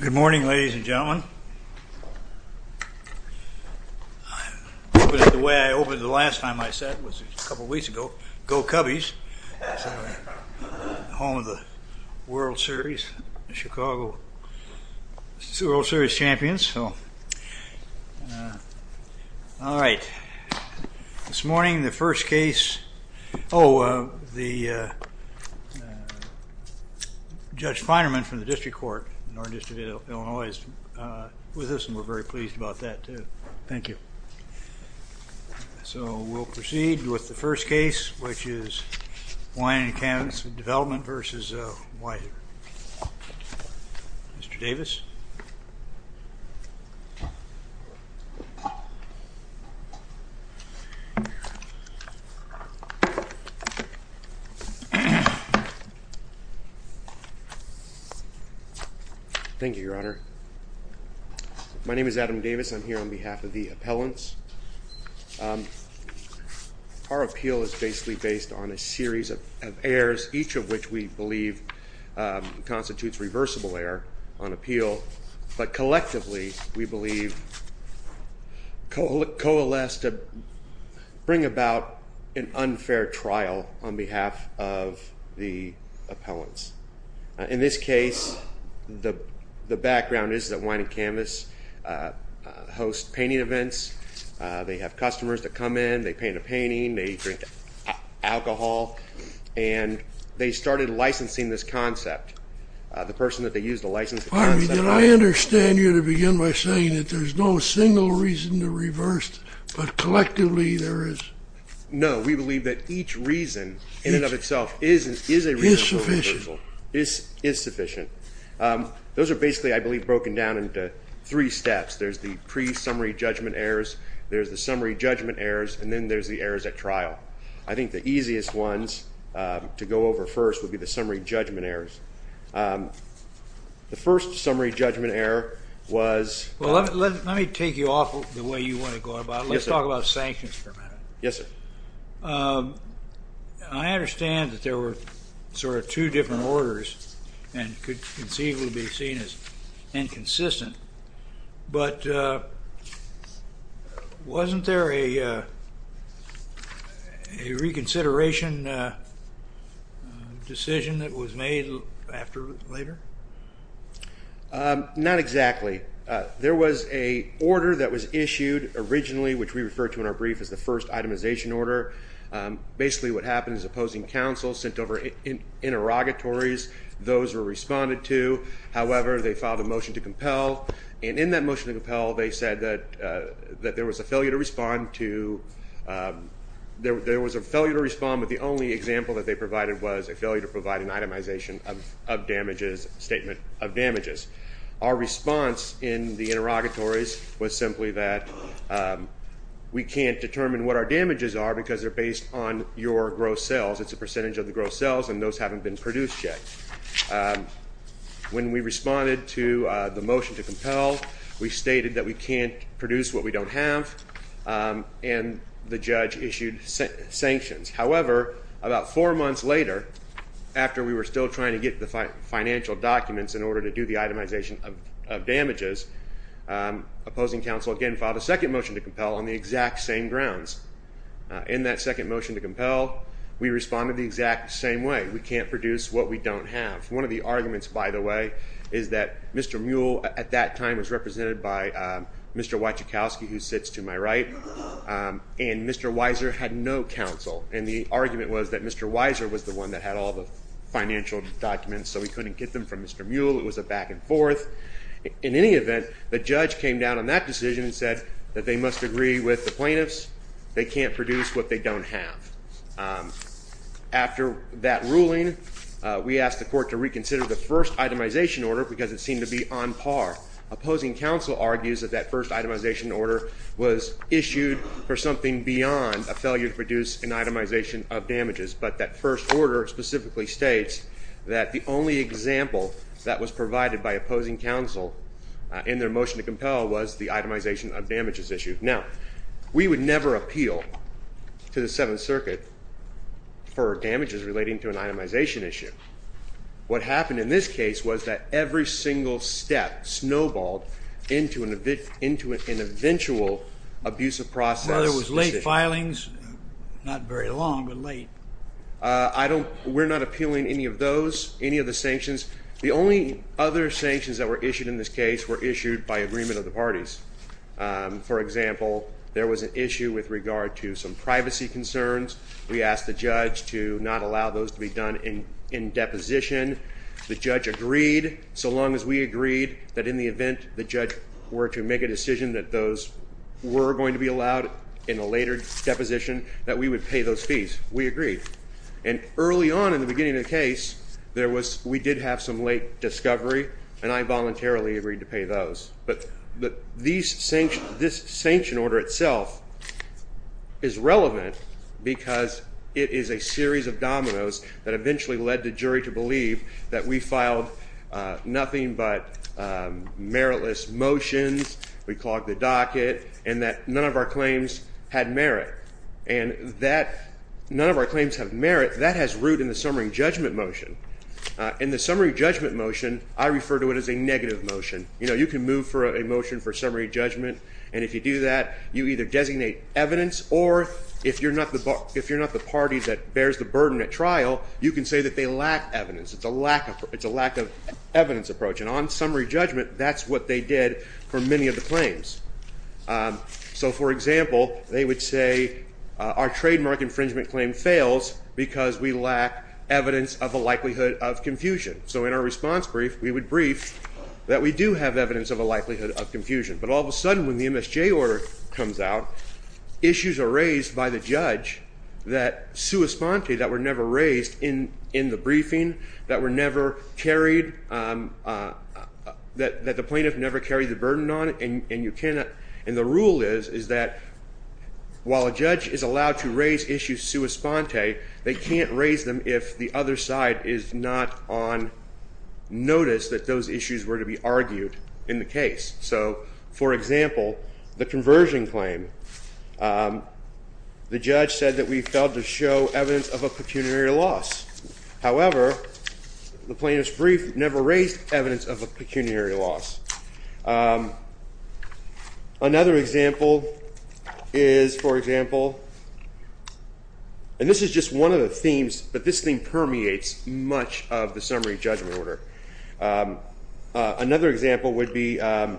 Good morning, ladies and gentlemen. I opened it the way I opened it the last time I sat, which was a couple of weeks ago. Go Cubbies! Home of the World Series. The Chicago World Series champions. All right. This morning, the first case... Oh, the... Judge Feinerman from the District Court, North District of Illinois, is with us, and we're very pleased about that, too. Thank you. So, we'll proceed with the first case, which is Wine & Canvas Development v. Theodore Weisser. Mr. Davis. Thank you, Your Honor. My name is Adam Davis. I'm here on behalf of the appellants. Our appeal is basically based on a series of errors, each of which we believe constitutes reversible error on appeal. But collectively, we believe coalesce to bring about an unfair trial on behalf of the appellants. In this case, the background is that Wine & Canvas hosts painting events. They have customers that come in. They paint a painting. They drink alcohol. And they started licensing this concept. The person that they used to license the concept... Pardon me. Did I understand you to begin by saying that there's no single reason to reverse, but collectively there is? No. We believe that each reason, in and of itself, is a reasonable reversal. Is sufficient. Is sufficient. Those are basically, I believe, broken down into three steps. There's the pre-summary judgment errors. There's the summary judgment errors. And then there's the errors at trial. I think the easiest ones to go over first would be the summary judgment errors. The first summary judgment error was... Well, let me take you off the way you want to go about it. Let's talk about sanctions for a minute. Yes, sir. I understand that there were sort of two different orders and could conceivably be seen as inconsistent. But wasn't there a reconsideration decision that was made later? Not exactly. There was an order that was issued originally, which we refer to in our brief as the first itemization order. Basically what happened is opposing counsel sent over interrogatories. Those were responded to. However, they filed a motion to compel. And in that motion to compel, they said that there was a failure to respond to the only example that they provided was a failure to provide an itemization of damages, statement of damages. Our response in the interrogatories was simply that we can't determine what our damages are because they're based on your gross sales. It's a percentage of the gross sales, and those haven't been produced yet. When we responded to the motion to compel, we stated that we can't produce what we don't have, and the judge issued sanctions. However, about four months later, after we were still trying to get the financial documents in order to do the itemization of damages, opposing counsel again filed a second motion to compel on the exact same grounds. In that second motion to compel, we responded the exact same way. We said we can't produce what we don't have. One of the arguments, by the way, is that Mr. Muell at that time was represented by Mr. Wachikowski, who sits to my right, and Mr. Weiser had no counsel, and the argument was that Mr. Weiser was the one that had all the financial documents, so he couldn't get them from Mr. Muell. It was a back and forth. In any event, the judge came down on that decision and said that they must agree with the plaintiffs. They can't produce what they don't have. After that ruling, we asked the court to reconsider the first itemization order because it seemed to be on par. Opposing counsel argues that that first itemization order was issued for something beyond a failure to produce an itemization of damages, but that first order specifically states that the only example that was provided by opposing counsel in their motion to compel was the itemization of damages issue. Now, we would never appeal to the Seventh Circuit for damages relating to an itemization issue. What happened in this case was that every single step snowballed into an eventual abusive process. There was late filings, not very long, but late. We're not appealing any of those, any of the sanctions. The only other sanctions that were issued in this case were issued by agreement of the parties. For example, there was an issue with regard to some privacy concerns. We asked the judge to not allow those to be done in deposition. The judge agreed, so long as we agreed that in the event the judge were to make a decision that those were going to be allowed in a later deposition, that we would pay those fees. We agreed. And early on in the beginning of the case, we did have some late discovery, and I voluntarily agreed to pay those. But this sanction order itself is relevant because it is a series of dominoes that eventually led the jury to believe that we filed nothing but meritless motions, we clogged the docket, and that none of our claims had merit. And that none of our claims have merit, that has root in the summary judgment motion. In the summary judgment motion, I refer to it as a negative motion. You know, you can move for a motion for summary judgment, and if you do that, you either designate evidence, or if you're not the party that bears the burden at trial, you can say that they lack evidence. It's a lack of evidence approach. And on summary judgment, that's what they did for many of the claims. So, for example, they would say our trademark infringement claim fails because we lack evidence of the likelihood of confusion. So in our response brief, we would brief that we do have evidence of a likelihood of confusion. But all of a sudden, when the MSJ order comes out, issues are raised by the judge that sui sponte, that were never raised in the briefing, that were never carried, that the plaintiff never carried the burden on it. And the rule is that while a judge is allowed to raise issues sui sponte, they can't raise them if the other side is not on notice that those issues were to be argued in the case. So, for example, the conversion claim. The judge said that we failed to show evidence of a pecuniary loss. However, the plaintiff's brief never raised evidence of a pecuniary loss. Another example is, for example, and this is just one of the themes, but this thing permeates much of the summary judgment order. Another example would be the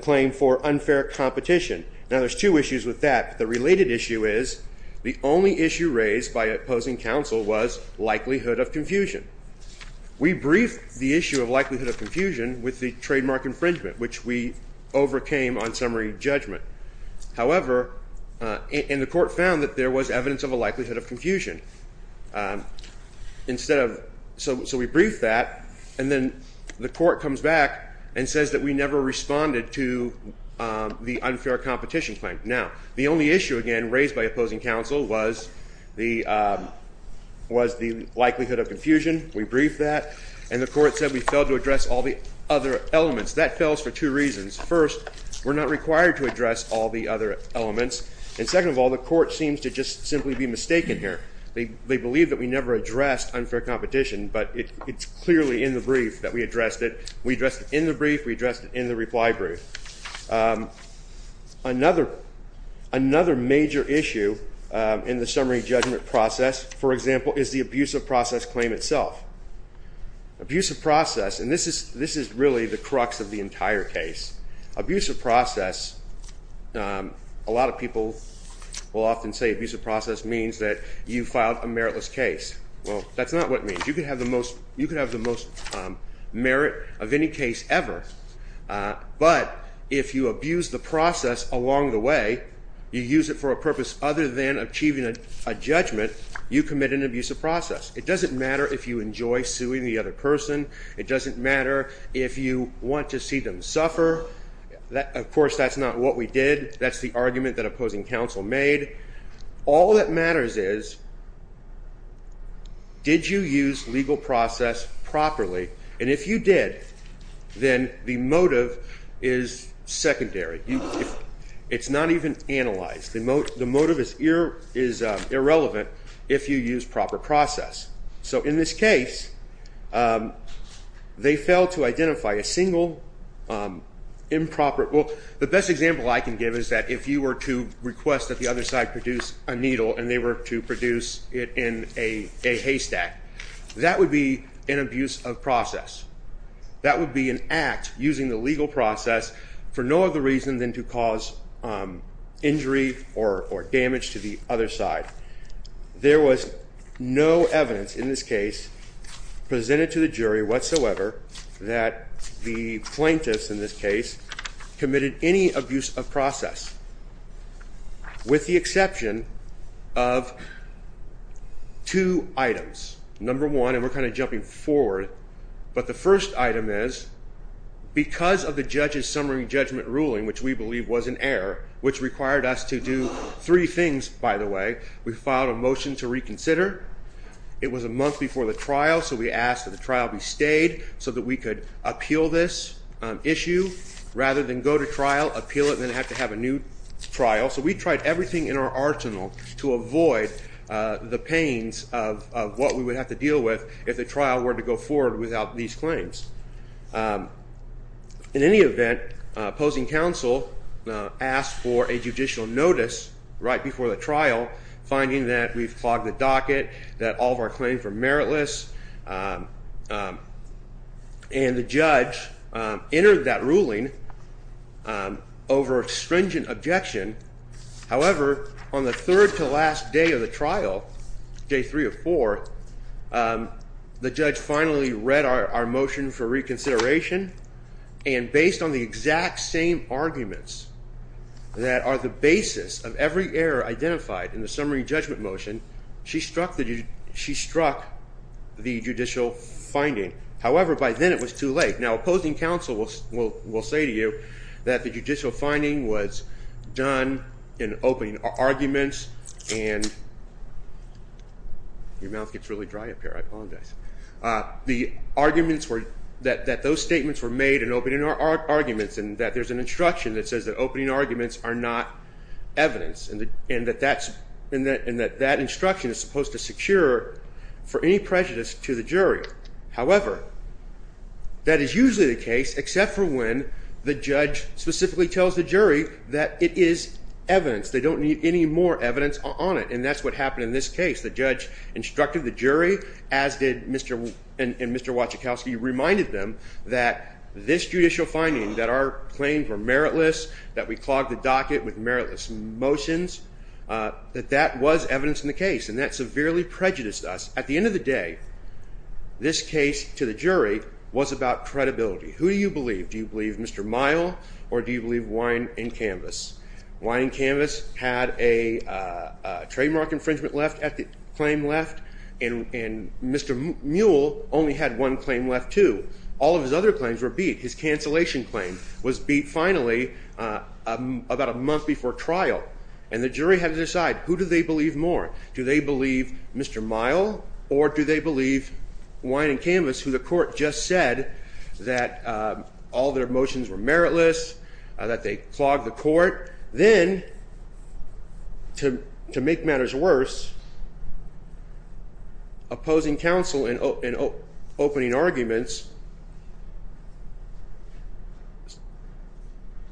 claim for unfair competition. Now, there's two issues with that. The related issue is the only issue raised by opposing counsel was likelihood of confusion. We briefed the issue of likelihood of confusion with the trademark infringement, which we overcame on summary judgment. However, and the court found that there was evidence of a likelihood of confusion instead of. So we briefed that, and then the court comes back and says that we never responded to the unfair competition claim. Now, the only issue, again, raised by opposing counsel was the likelihood of confusion. We briefed that, and the court said we failed to address all the other elements. That fails for two reasons. First, we're not required to address all the other elements. And second of all, the court seems to just simply be mistaken here. They believe that we never addressed unfair competition, but it's clearly in the brief that we addressed it. We addressed it in the brief. We addressed it in the reply brief. Another major issue in the summary judgment process, for example, is the abusive process claim itself. Abusive process, and this is really the crux of the entire case. Abusive process, a lot of people will often say abusive process means that you filed a meritless case. Well, that's not what it means. You can have the most merit of any case ever, but if you abuse the process along the way, you use it for a purpose other than achieving a judgment, you commit an abusive process. It doesn't matter if you enjoy suing the other person. It doesn't matter if you want to see them suffer. Of course, that's not what we did. That's the argument that opposing counsel made. All that matters is did you use legal process properly, and if you did, then the motive is secondary. It's not even analyzed. The motive is irrelevant if you use proper process. So in this case, they failed to identify a single improper. Well, the best example I can give is that if you were to request that the other side produce a needle and they were to produce it in a haystack, that would be an abuse of process. That would be an act using the legal process for no other reason than to cause injury or damage to the other side. There was no evidence in this case presented to the jury whatsoever that the plaintiffs in this case committed any abuse of process with the exception of two items. Number one, and we're kind of jumping forward, but the first item is because of the judge's summary judgment ruling, which we believe was an error, which required us to do three things, by the way. We filed a motion to reconsider. It was a month before the trial, so we asked that the trial be stayed so that we could appeal this issue rather than go to trial, appeal it, and then have to have a new trial. So we tried everything in our arsenal to avoid the pains of what we would have to deal with if the trial were to go forward without these claims. In any event, opposing counsel asked for a judicial notice right before the trial, finding that we've clogged the docket, that all of our claims were meritless, and the judge entered that ruling over stringent objection. However, on the third to last day of the trial, day three or four, the judge finally read our motion for reconsideration, and based on the exact same arguments that are the basis of every error identified in the summary judgment motion, she struck the judicial finding. However, by then it was too late. Now, opposing counsel will say to you that the judicial finding was done in opening arguments, and your mouth gets really dry up here. I apologize. The arguments were that those statements were made in opening arguments and that there's an instruction that says that opening arguments are not evidence and that that instruction is supposed to secure for any prejudice to the jury. However, that is usually the case except for when the judge specifically tells the jury that it is evidence. They don't need any more evidence on it, and that's what happened in this case. The judge instructed the jury, as did Mr. and Mr. Wachikowski, reminded them that this judicial finding, that our claims were meritless, that we clogged the docket with meritless motions, that that was evidence in the case, and that severely prejudiced us. At the end of the day, this case to the jury was about credibility. Who do you believe? Do you believe Mr. Mile, or do you believe Wine and Canvas? Wine and Canvas had a trademark infringement left at the claim left, and Mr. Muell only had one claim left, too. All of his other claims were beat. His cancellation claim was beat finally about a month before trial, and the jury had to decide, who do they believe more? Do they believe Mr. Mile, or do they believe Wine and Canvas, who the court just said that all their motions were meritless, that they clogged the court? Then, to make matters worse, opposing counsel in opening arguments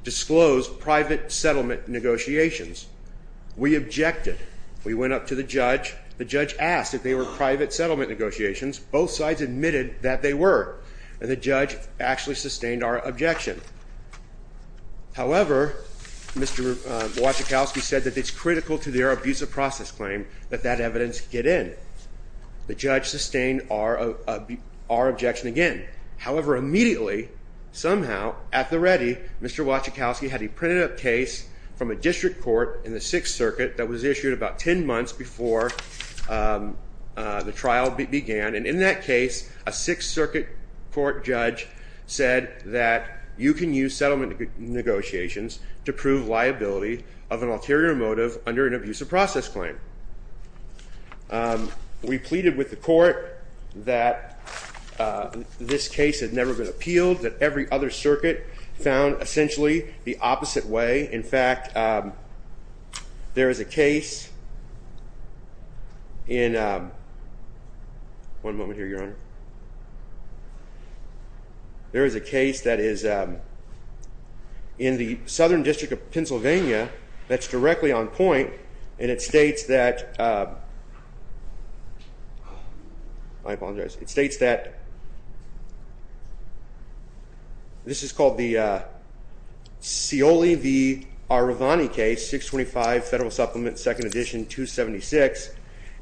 disclosed private settlement negotiations. We objected. We went up to the judge. The judge asked if they were private settlement negotiations. Both sides admitted that they were, and the judge actually sustained our objection. However, Mr. Wachikowski said that it's critical to their abusive process claim that that evidence get in. The judge sustained our objection again. However, immediately, somehow, at the ready, Mr. Wachikowski had a printed-up case from a district court in the Sixth Circuit that was issued about 10 months before the trial began, and in that case, a Sixth Circuit court judge said that you can use settlement negotiations to prove liability of an ulterior motive under an abusive process claim. We pleaded with the court that this case had never been appealed, that every other circuit found essentially the opposite way. In fact, there is a case in the Southern District of Pennsylvania that's directly on point, and it states that This is called the Scioli v. Arevani case, 625 Federal Supplement, 2nd edition, 276,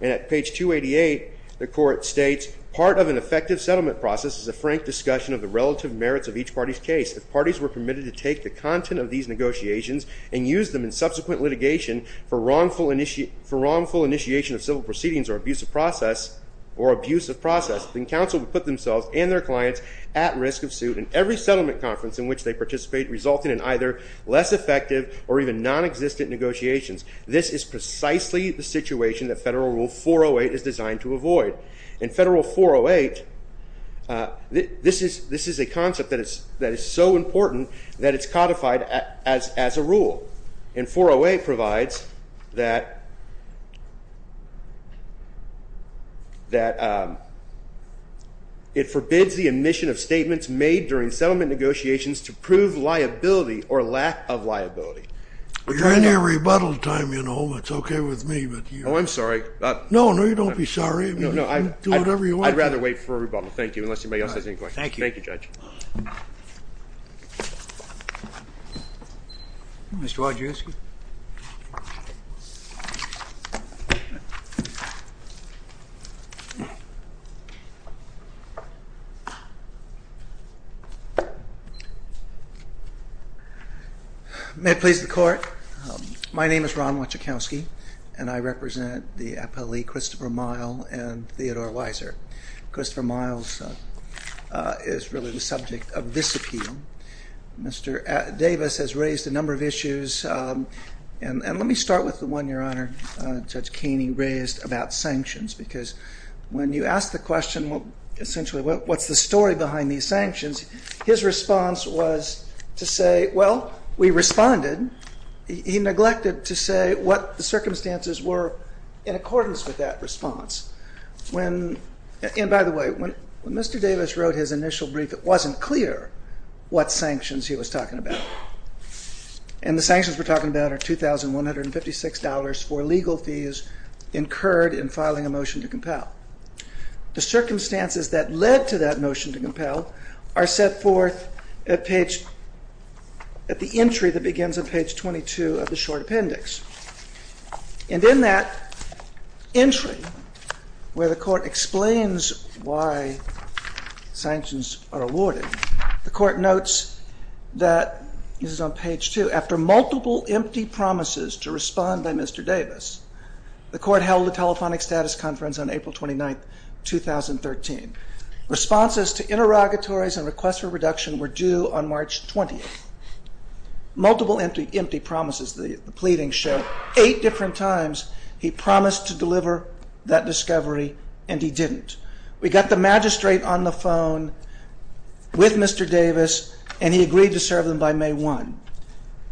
and at page 288, the court states, Part of an effective settlement process is a frank discussion of the relative merits of each party's case. If parties were permitted to take the content of these negotiations and use them in subsequent litigation for wrongful initiation of civil proceedings or abusive process, then counsel would put themselves and their clients at risk of suit, and every settlement conference in which they participate resulted in either less effective or even nonexistent negotiations. This is precisely the situation that Federal Rule 408 is designed to avoid. In Federal 408, this is a concept that is so important that it's codified as a rule. And 408 provides that it forbids the omission of statements made during settlement negotiations to prove liability or lack of liability. Your Honor, rebuttal time, you know, it's okay with me. Oh, I'm sorry. No, no, you don't be sorry. I'd rather wait for a rebuttal. Thank you, unless anybody else has any questions. Thank you. Thank you, Judge. Mr. Wojcicki. May it please the Court. My name is Ron Wojcicki, and I represent the appellee Christopher Mile and Theodore Weiser. Christopher Mile is really the subject of this appeal. Mr. Davis has raised a number of issues. And let me start with the one, Your Honor, Judge Keeney raised about sanctions, because when you ask the question, essentially, what's the story behind these sanctions, his response was to say, well, we responded. He neglected to say what the circumstances were in accordance with that response. And by the way, when Mr. Davis wrote his initial brief, it wasn't clear what sanctions he was talking about. And the sanctions we're talking about are $2,156 for legal fees incurred in filing a motion to compel. The circumstances that led to that motion to compel are set forth at the entry that begins on page 22 of the short appendix. And in that entry, where the Court explains why sanctions are awarded, the Court notes that, this is on page 2, after multiple empty promises to respond by Mr. Davis, the Court held a telephonic status conference on April 29th, 2013. Responses to interrogatories and requests for reduction were due on March 20th. Multiple empty promises, the pleadings show, eight different times he promised to deliver that discovery, and he didn't. We got the magistrate on the phone with Mr. Davis, and he agreed to serve them by May 1.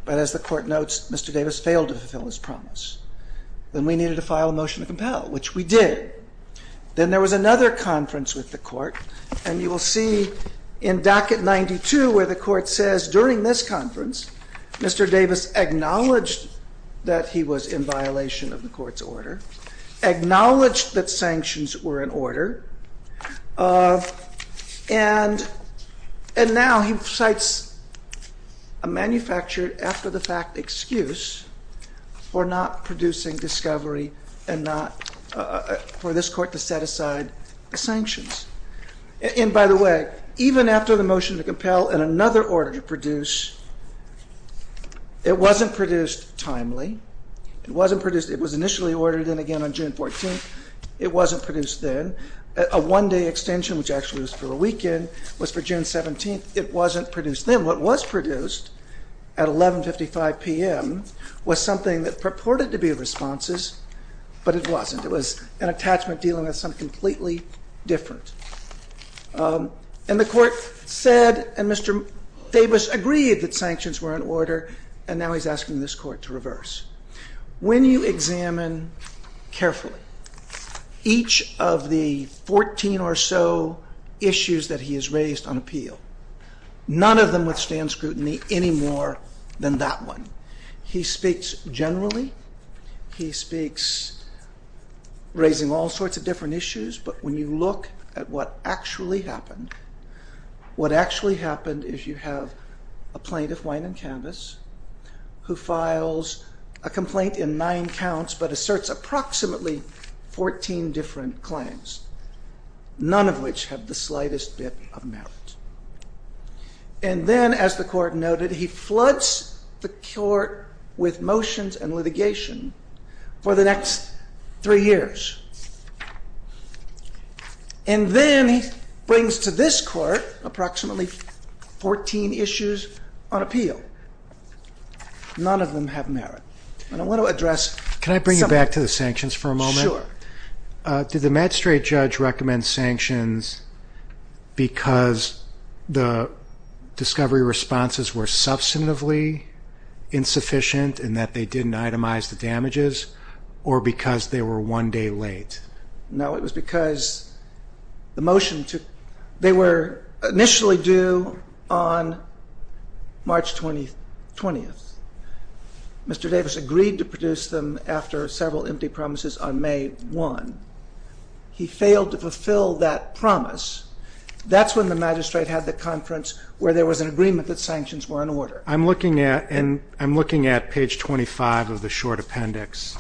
But as the Court notes, Mr. Davis failed to fulfill his promise. Then we needed to file a motion to compel, which we did. Then there was another conference with the Court, and you will see in docket 92 where the Court says, during this conference, Mr. Davis acknowledged that he was in violation of the Court's order, acknowledged that sanctions were in order, and now he cites a manufactured after-the-fact excuse for not producing discovery and for this Court to set aside sanctions. And by the way, even after the motion to compel and another order to produce, it wasn't produced timely. It was initially ordered in again on June 14th. It wasn't produced then. A one-day extension, which actually was for a weekend, was for June 17th. It wasn't produced then. And what was produced at 11.55 p.m. was something that purported to be responses, but it wasn't. It was an attachment dealing with something completely different. And the Court said, and Mr. Davis agreed that sanctions were in order, and now he's asking this Court to reverse. When you examine carefully each of the 14 or so issues that he has raised on appeal, none of them withstand scrutiny any more than that one. He speaks generally. He speaks raising all sorts of different issues. But when you look at what actually happened, what actually happened is you have a plaintiff, Wayne and Canvas, who files a complaint in nine counts but asserts approximately 14 different claims, none of which have the slightest bit of merit. And then, as the Court noted, he floods the Court with motions and litigation for the next three years. And then he brings to this Court approximately 14 issues on appeal. None of them have merit. And I want to address some of them. Did the magistrate judge recommend sanctions because the discovery responses were substantively insufficient and that they didn't itemize the damages, or because they were one day late? No, it was because they were initially due on March 20th. Mr. Davis agreed to produce them after several empty promises on May 1. He failed to fulfill that promise. That's when the magistrate had the conference where there was an agreement that sanctions were in order. I'm looking at page 25 of the short appendix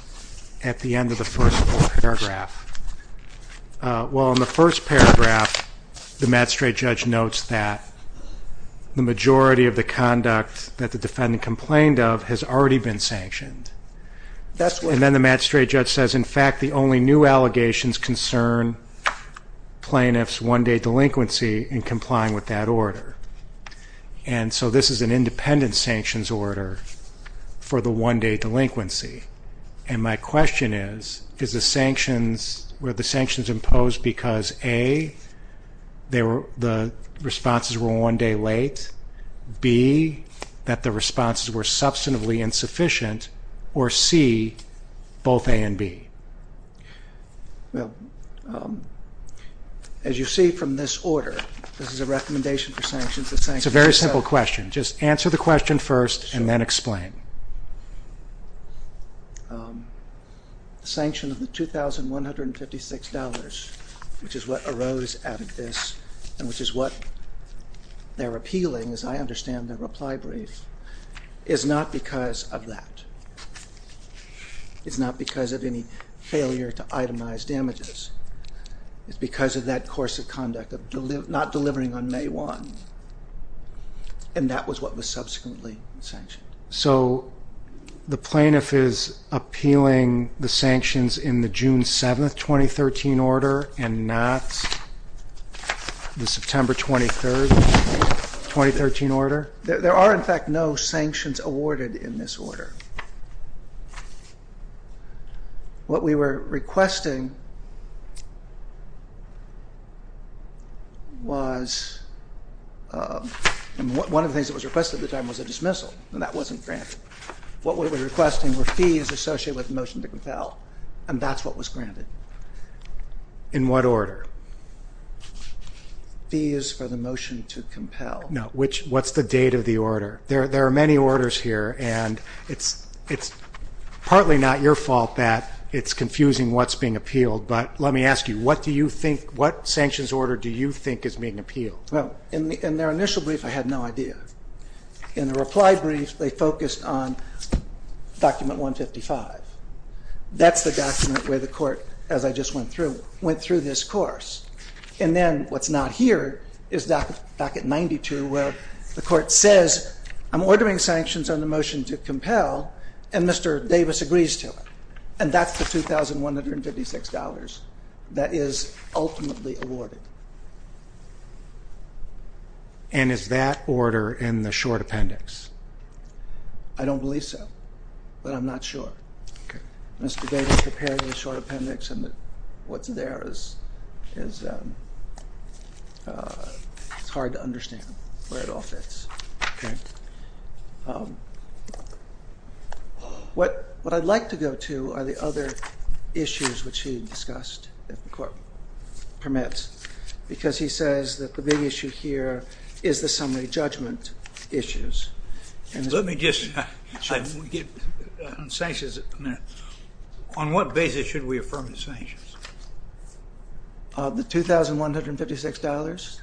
at the end of the first paragraph. Well, in the first paragraph, the magistrate judge notes that the majority of the conduct that the defendant complained of has already been sanctioned. And then the magistrate judge says, in fact, the only new allegations concern plaintiff's one-day delinquency in complying with that order. And so this is an independent sanctions order for the one-day delinquency. And my question is, were the sanctions imposed because, A, the responses were one day late? B, that the responses were substantively insufficient? Or, C, both A and B? Well, as you see from this order, this is a recommendation for sanctions. It's a very simple question. Just answer the question first and then explain. The sanction of the $2,156, which is what arose out of this and which is what they're appealing, as I understand their reply brief, is not because of that. It's not because of any failure to itemize damages. It's because of that course of conduct of not delivering on May 1. And that was what was subsequently sanctioned. So the plaintiff is appealing the sanctions in the June 7, 2013, order and not the September 23, 2013, order? There are, in fact, no sanctions awarded in this order. What we were requesting was one of the things that was requested at the time was a dismissal. And that wasn't granted. What we were requesting were fees associated with the motion to compel. And that's what was granted. In what order? Fees for the motion to compel. No. What's the date of the order? There are many orders here. And it's partly not your fault that it's confusing what's being appealed. But let me ask you, what sanctions order do you think is being appealed? Well, in their initial brief, I had no idea. In the reply brief, they focused on document 155. That's the document where the court, as I just went through, went through this course. And then what's not here is docket 92, where the court says, I'm ordering sanctions on the motion to compel, and Mr. Davis agrees to it. And that's the $2,156 that is ultimately awarded. And is that order in the short appendix? I don't believe so. But I'm not sure. Mr. Davis prepared the short appendix, and what's there is hard to understand where it all fits. OK. What I'd like to go to are the other issues which he discussed, if the court permits, because he says that the big issue here is the summary judgment issues. Let me just get on sanctions a minute. On what basis should we affirm the sanctions? The $2,156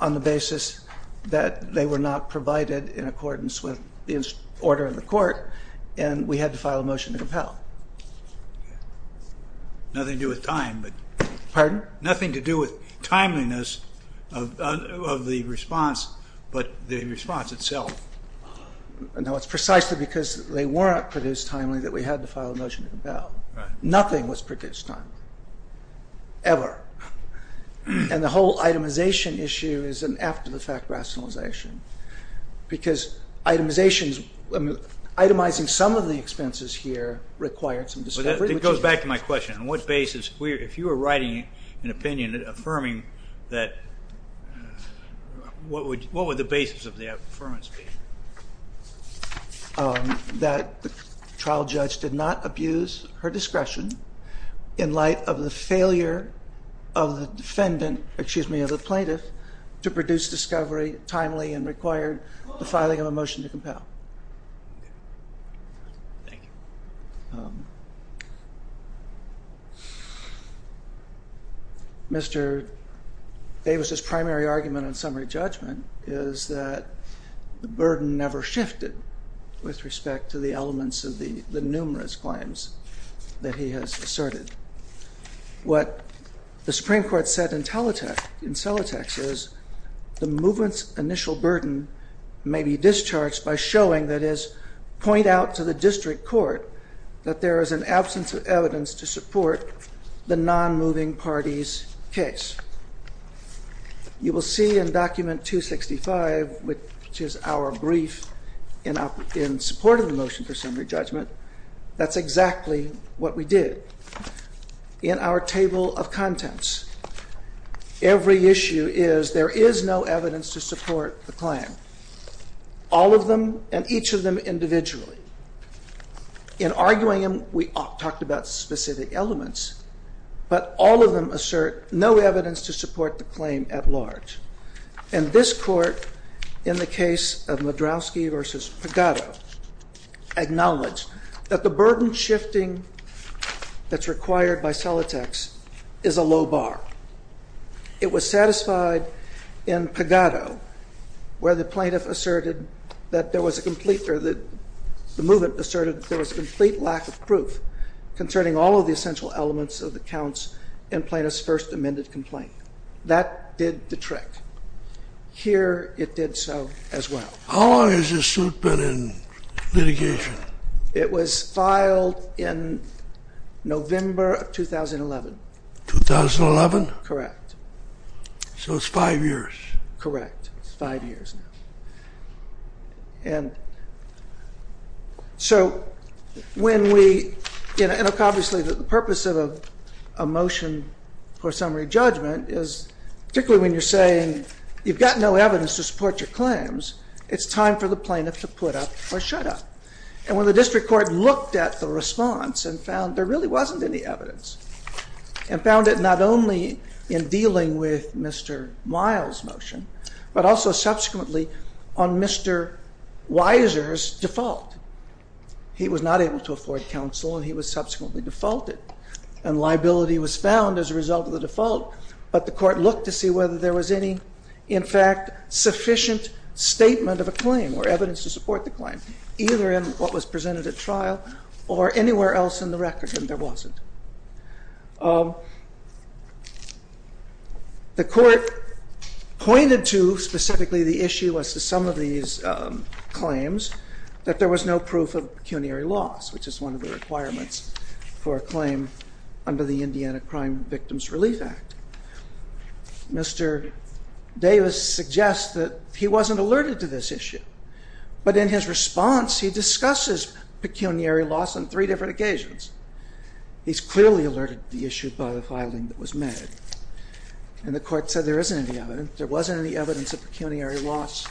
on the basis that they were not provided in accordance with the order of the court, and we had to file a motion to compel. Nothing to do with time. Pardon? Nothing to do with timeliness of the response, but the response itself. No, it's precisely because they weren't produced timely that we had to file a motion to compel. Nothing was produced timely, ever. And the whole itemization issue is an after-the-fact rationalization, because itemizing some of the expenses here required some discovery. It goes back to my question. On what basis, if you were writing an opinion affirming that, what would the basis of the affirmance be? That the trial judge did not abuse her discretion in light of the failure of the defendant, excuse me, of the plaintiff, to produce discovery timely and required the filing of a motion to compel. Thank you. Mr. Davis's primary argument on summary judgment is that the burden never shifted with respect to the elements of the numerous claims that he has asserted. What the Supreme Court said in Celotex is the movement's initial burden may be discharged by showing, that is, point out to the district court that there is an absence of evidence to support the non-moving party's case. You will see in Document 265, which is our brief in support of the motion for summary judgment, that's exactly what we did. In our table of contents, every issue is there is no evidence to support the claim. All of them, and each of them individually. In arguing them, we talked about specific elements, but all of them assert no evidence to support the claim at large. And this court, in the case of Madrowski v. Pagotto, acknowledged that the burden shifting that's required by Celotex is a low bar. It was satisfied in Pagotto where the plaintiff asserted that there was a complete or the movement asserted there was a complete lack of proof concerning all of the essential elements of the counts in plaintiff's first amended complaint. That did the trick. Here it did so as well. How long has this suit been in litigation? It was filed in November of 2011. 2011? Correct. So it's five years. Correct. It's five years now. And so when we, and obviously the purpose of a motion for summary judgment is, particularly when you're saying you've got no evidence to support your claims, it's time for the plaintiff to put up or shut up. And when the district court looked at the response and found there really wasn't any evidence and found it not only in dealing with Mr. Miles' motion, but also subsequently on Mr. Weiser's default. He was not able to afford counsel and he was subsequently defaulted. And liability was found as a result of the default, but the court looked to see whether there was any, in fact, sufficient statement of a claim or evidence to support the claim. Either in what was presented at trial or anywhere else in the record that there wasn't. The court pointed to, specifically the issue as to some of these claims, that there was no proof of pecuniary loss, which is one of the requirements for a claim under the Indiana Crime Victims Relief Act. Mr. Davis suggests that he wasn't alerted to this issue, but in his response he discusses pecuniary loss on three different occasions. He's clearly alerted to the issue by the filing that was made. And the court said there isn't any evidence. There wasn't any evidence of pecuniary loss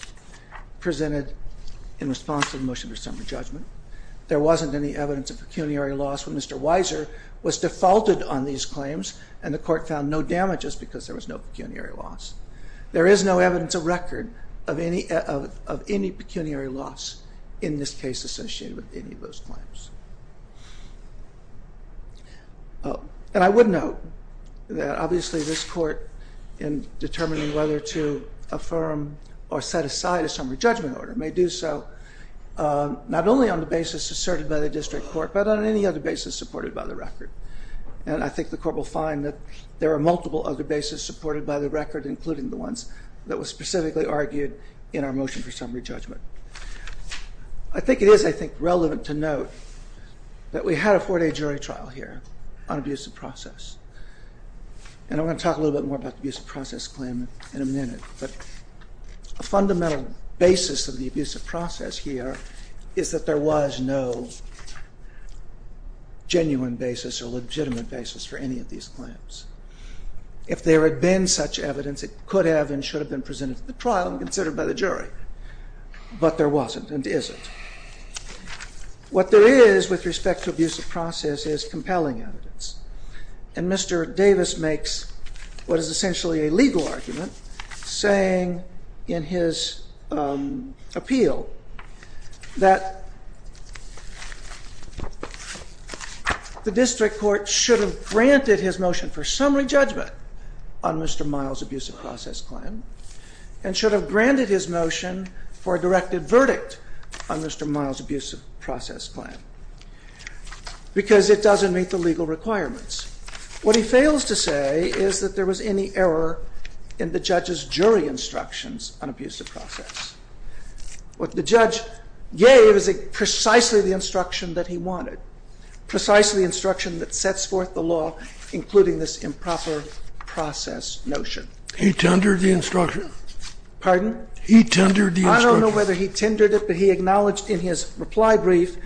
presented in response to the motion for summary judgment. There wasn't any evidence of pecuniary loss when Mr. Weiser was defaulted on these claims and the court found no damages because there was no pecuniary loss. There is no evidence of record of any pecuniary loss in this case associated with any of those claims. And I would note that obviously this court, in determining whether to affirm or set aside a summary judgment order, may do so not only on the basis asserted by the district court, but on any other basis supported by the record. And I think the court will find that there are multiple other bases supported by the record, including the ones that were specifically argued in our motion for summary judgment. I think it is, I think, relevant to note that we had a four-day jury trial here on abusive process. And I'm going to talk a little bit more about the abusive process claim in a minute. But a fundamental basis of the abusive process here is that there was no genuine basis or legitimate basis for any of these claims. If there had been such evidence, it could have and should have been presented to the trial and considered by the jury. But there wasn't and isn't. What there is with respect to abusive process is compelling evidence. And Mr. Davis makes what is essentially a legal argument saying in his appeal that the district court should have granted his motion for summary judgment on Mr. Miles' abusive process claim and should have granted his motion for a directed verdict on Mr. Miles' abusive process claim because it doesn't meet the legal requirements. What he fails to say is that there was any error in the judge's jury instructions on abusive process. What the judge gave is precisely the instruction that he wanted, precisely the instruction that sets forth the law, including this improper process notion. He tendered the instruction? Pardon? He tendered the instruction? I don't know whether he tendered it, but he acknowledged in his reply brief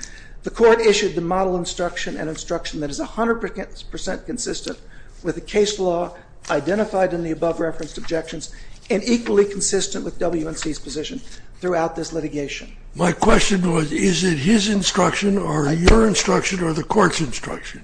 the court issued the model instruction, an instruction that is 100 percent consistent with the case law identified in the above-referenced objections and equally consistent with WNC's position throughout this litigation. My question was, is it his instruction or your instruction or the court's instruction?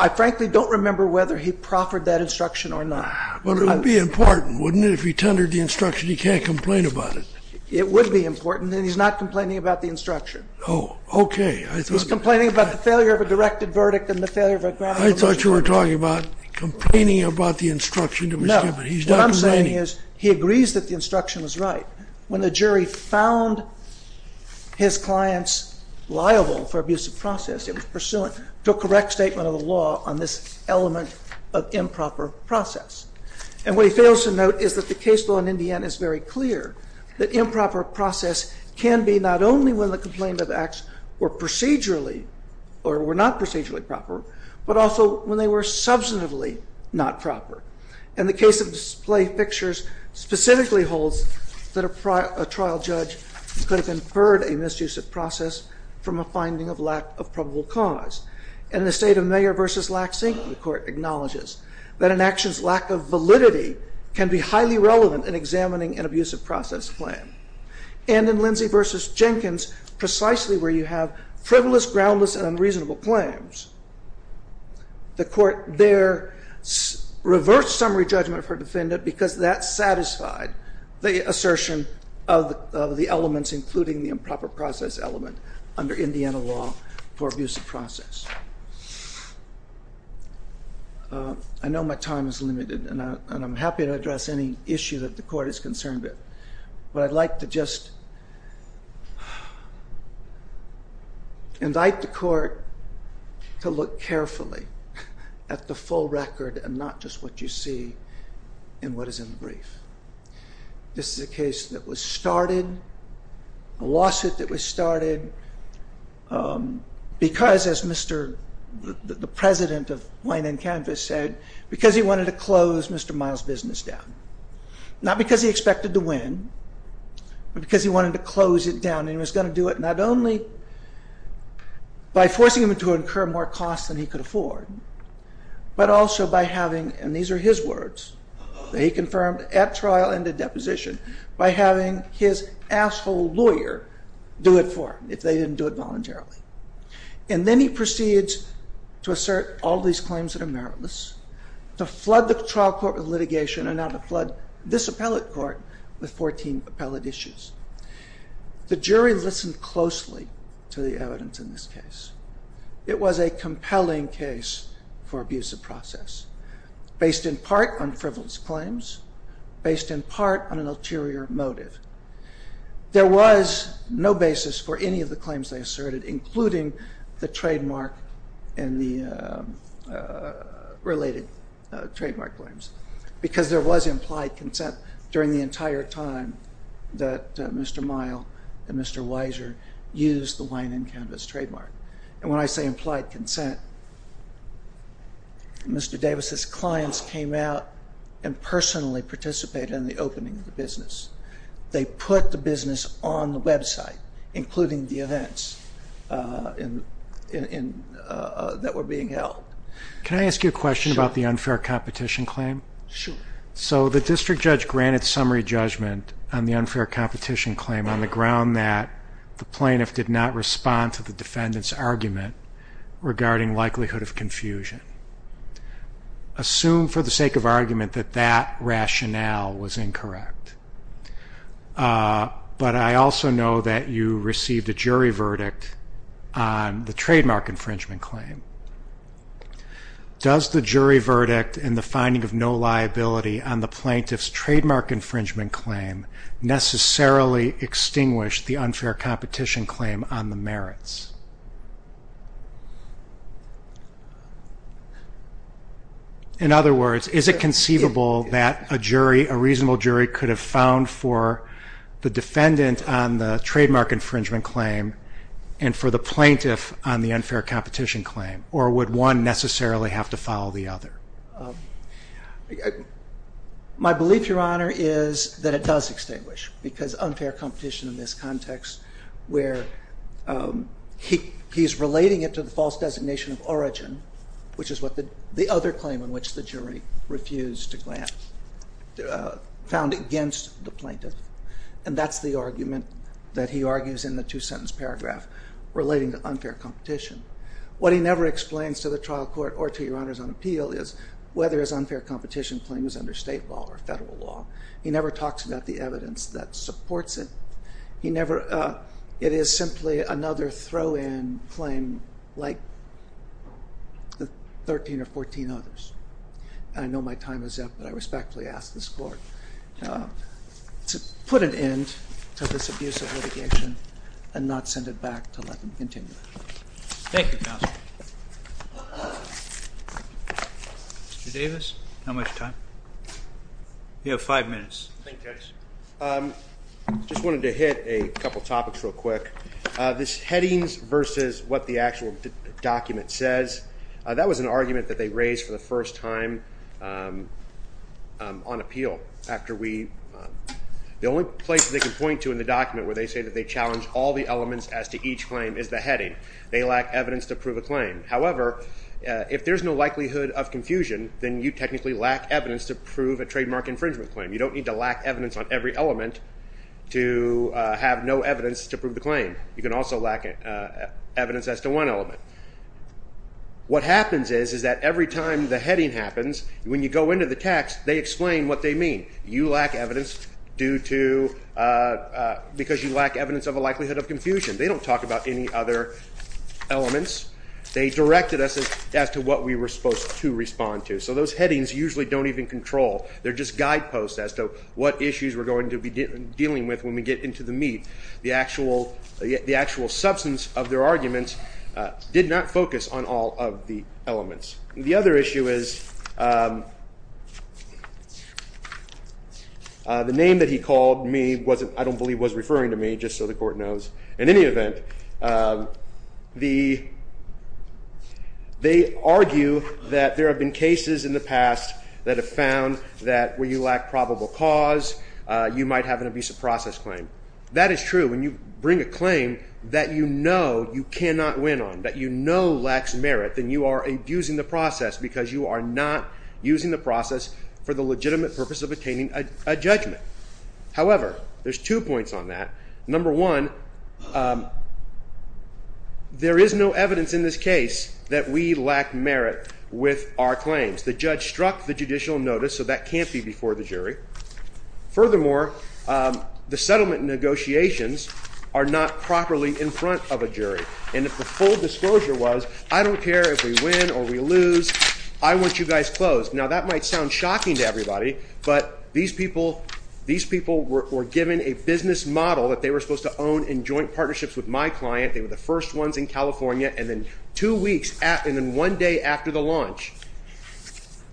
I frankly don't remember whether he proffered that instruction or not. But it would be important, wouldn't it? If he tendered the instruction, he can't complain about it. It would be important, and he's not complaining about the instruction. Oh, okay. He's complaining about the failure of a directed verdict and the failure of a grounded version. I thought you were talking about complaining about the instruction. No, what I'm saying is he agrees that the instruction was right. When the jury found his clients liable for abusive process, it was pursuant to a correct statement of the law on this element of improper process. And what he fails to note is that the case law in Indiana is very clear that improper process can be not only when the complaint of acts were procedurally or were not procedurally proper, but also when they were substantively not proper. And the case of display pictures specifically holds that a trial judge could have inferred a misuse of process from a finding of lack of probable cause. And in the state of Mayer v. Lack, the court acknowledges that an action's lack of validity can be highly relevant in examining an abusive process claim. And in Lindsey v. Jenkins, precisely where you have frivolous, groundless, and unreasonable claims, the court there reversed summary judgment for defendant because that satisfied the assertion of the elements, including the improper process element under Indiana law for abusive process. I know my time is limited, and I'm happy to address any issue that the court is concerned with. But I'd like to just invite the court to look carefully at the full record and not just what you see in what is in the brief. This is a case that was started, a lawsuit that was started, because, as the president of Wayne and Canvas said, because he wanted to close Mr. Miles' business down. Not because he expected to win, but because he wanted to close it down. And he was going to do it not only by forcing him to incur more costs than he could afford, but also by having, and these are his words, that he confirmed at trial and at deposition, by having his asshole lawyer do it for him, if they didn't do it voluntarily. And then he proceeds to assert all these claims that are meritless, to flood the trial court with litigation, and now to flood this appellate court with 14 appellate issues. The jury listened closely to the evidence in this case. It was a compelling case for abusive process, based in part on frivolous claims, based in part on an ulterior motive. There was no basis for any of the claims they asserted, including the trademark and the related trademark claims, because there was implied consent during the entire time that Mr. Mile and Mr. Weiser used the Wayne and Canvas trademark. And when I say implied consent, Mr. Davis' clients came out and personally participated in the opening of the business. They put the business on the website, including the events that were being held. Can I ask you a question about the unfair competition claim? Sure. So the district judge granted summary judgment on the unfair competition claim on the ground that the plaintiff did not respond to the defendant's argument regarding likelihood of confusion. Assume for the sake of argument that that rationale was incorrect. But I also know that you received a jury verdict on the trademark infringement claim. Does the jury verdict and the finding of no liability on the plaintiff's trademark infringement claim necessarily extinguish the unfair competition claim on the merits? In other words, is it conceivable that a jury, a reasonable jury, could have found for the defendant on the trademark infringement claim and for the plaintiff on the unfair competition claim, or would one necessarily have to follow the other? My belief, Your Honor, is that it does extinguish, because unfair competition in this context where he's relating it to the false designation of origin, which is the other claim on which the jury refused to grant, found against the plaintiff. And that's the argument that he argues in the two-sentence paragraph relating to unfair competition. What he never explains to the trial court or to Your Honors on appeal is whether his unfair competition claim is under state law or federal law. He never talks about the evidence that supports it. It is simply another throw-in claim like the 13 or 14 others. I know my time is up, but I respectfully ask this Court to put an end to this abusive litigation and not send it back to let them continue it. Thank you, Counsel. Mr. Davis, how much time? You have five minutes. Thank you, Judge. I just wanted to hit a couple topics real quick. This headings versus what the actual document says, that was an argument that they raised for the first time on appeal. The only place they can point to in the document where they say that they challenge all the elements as to each claim is the heading. They lack evidence to prove a claim. However, if there's no likelihood of confusion, then you technically lack evidence to prove a trademark infringement claim. You don't need to lack evidence on every element to have no evidence to prove the claim. You can also lack evidence as to one element. What happens is that every time the heading happens, when you go into the text, they explain what they mean. You lack evidence because you lack evidence of a likelihood of confusion. They don't talk about any other elements. They directed us as to what we were supposed to respond to. So those headings usually don't even control. They're just guideposts as to what issues we're going to be dealing with when we get into the meat. The actual substance of their arguments did not focus on all of the elements. The other issue is the name that he called me, I don't believe was referring to me, just so the court knows. In any event, they argue that there have been cases in the past that have found that where you lack probable cause, you might have an abuse of process claim. That is true. When you bring a claim that you know you cannot win on, that you know lacks merit, then you are abusing the process because you are not using the process for the legitimate purpose of obtaining a judgment. However, there's two points on that. Number one, there is no evidence in this case that we lack merit with our claims. The judge struck the judicial notice, so that can't be before the jury. Furthermore, the settlement negotiations are not properly in front of a jury. If the full disclosure was, I don't care if we win or we lose, I want you guys closed. Now, that might sound shocking to everybody, but these people were given a business model that they were supposed to own in joint partnerships with my client. They were the first ones in California. Then two weeks, and then one day after the launch,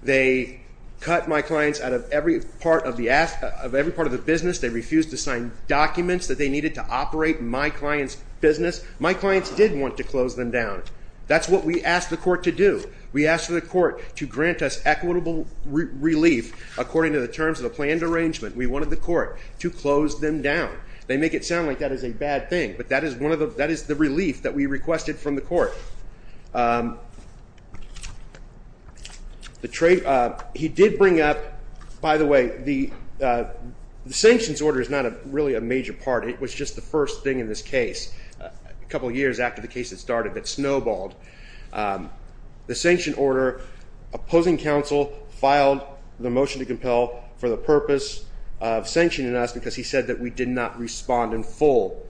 they cut my clients out of every part of the business. They refused to sign documents that they needed to operate my client's business. My clients did want to close them down. That's what we asked the court to do. We asked the court to grant us equitable relief according to the terms of the planned arrangement. We wanted the court to close them down. They make it sound like that is a bad thing, but that is the relief that we requested from the court. He did bring up, by the way, the sanctions order is not really a major part. It was just the first thing in this case a couple of years after the case had started that snowballed. The sanction order opposing counsel filed the motion to compel for the purpose of sanctioning us because he said that we did not respond in full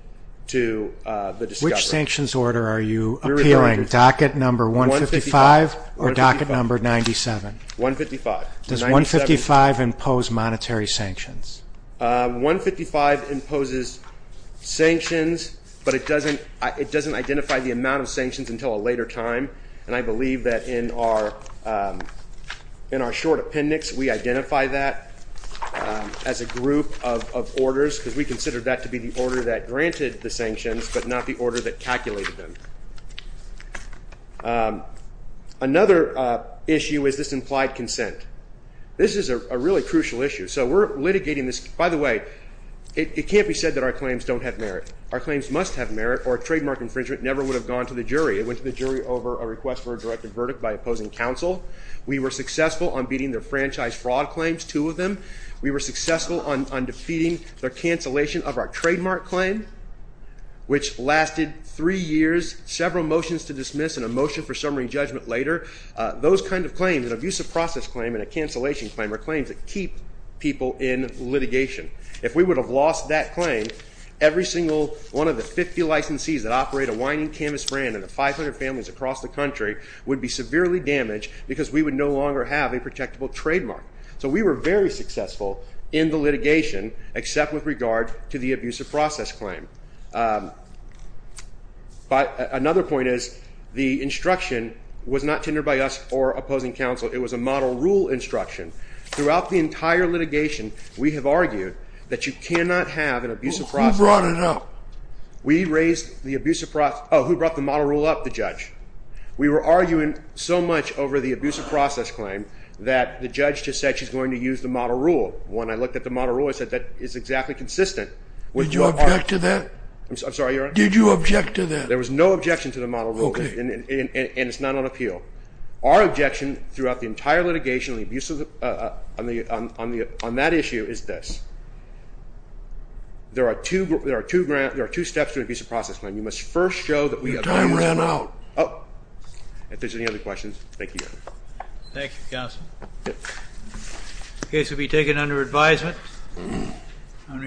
to the discovery. Which sanctions order are you appealing, docket number 155 or docket number 97? 155. Does 155 impose monetary sanctions? 155 imposes sanctions, but it doesn't identify the amount of sanctions until a later time. I believe that in our short appendix we identify that as a group of orders because we consider that to be the order that granted the sanctions but not the order that calculated them. Another issue is this implied consent. This is a really crucial issue. By the way, it can't be said that our claims don't have merit. Our claims must have merit or a trademark infringement never would have gone to the jury. It went to the jury over a request for a directed verdict by opposing counsel. We were successful on beating their franchise fraud claims, two of them. We were successful on defeating their cancellation of our trademark claim, which lasted three years, several motions to dismiss, and a motion for summary judgment later. Those kinds of claims, an abusive process claim and a cancellation claim are claims that keep people in litigation. If we would have lost that claim, every single one of the 50 licensees that operate a whining canvas brand and the 500 families across the country would be severely damaged because we would no longer have a protectable trademark. So we were very successful in the litigation except with regard to the abusive process claim. But another point is the instruction was not tendered by us or opposing counsel. It was a model rule instruction. Throughout the entire litigation, we have argued that you cannot have an abusive process. Who brought it up? We raised the abusive process. Oh, who brought the model rule up? The judge. We were arguing so much over the abusive process claim that the judge just said she's going to use the model rule. When I looked at the model rule, I said that is exactly consistent. Did you object to that? I'm sorry, Your Honor? Did you object to that? There was no objection to the model rule, and it's not on appeal. Our objection throughout the entire litigation on that issue is this. There are two steps to an abusive process claim. You must first show that we have an abusive process. Your time ran out. If there's any other questions, thank you, Your Honor. Thank you, Counsel. The case will be taken under advisement. I'm ready.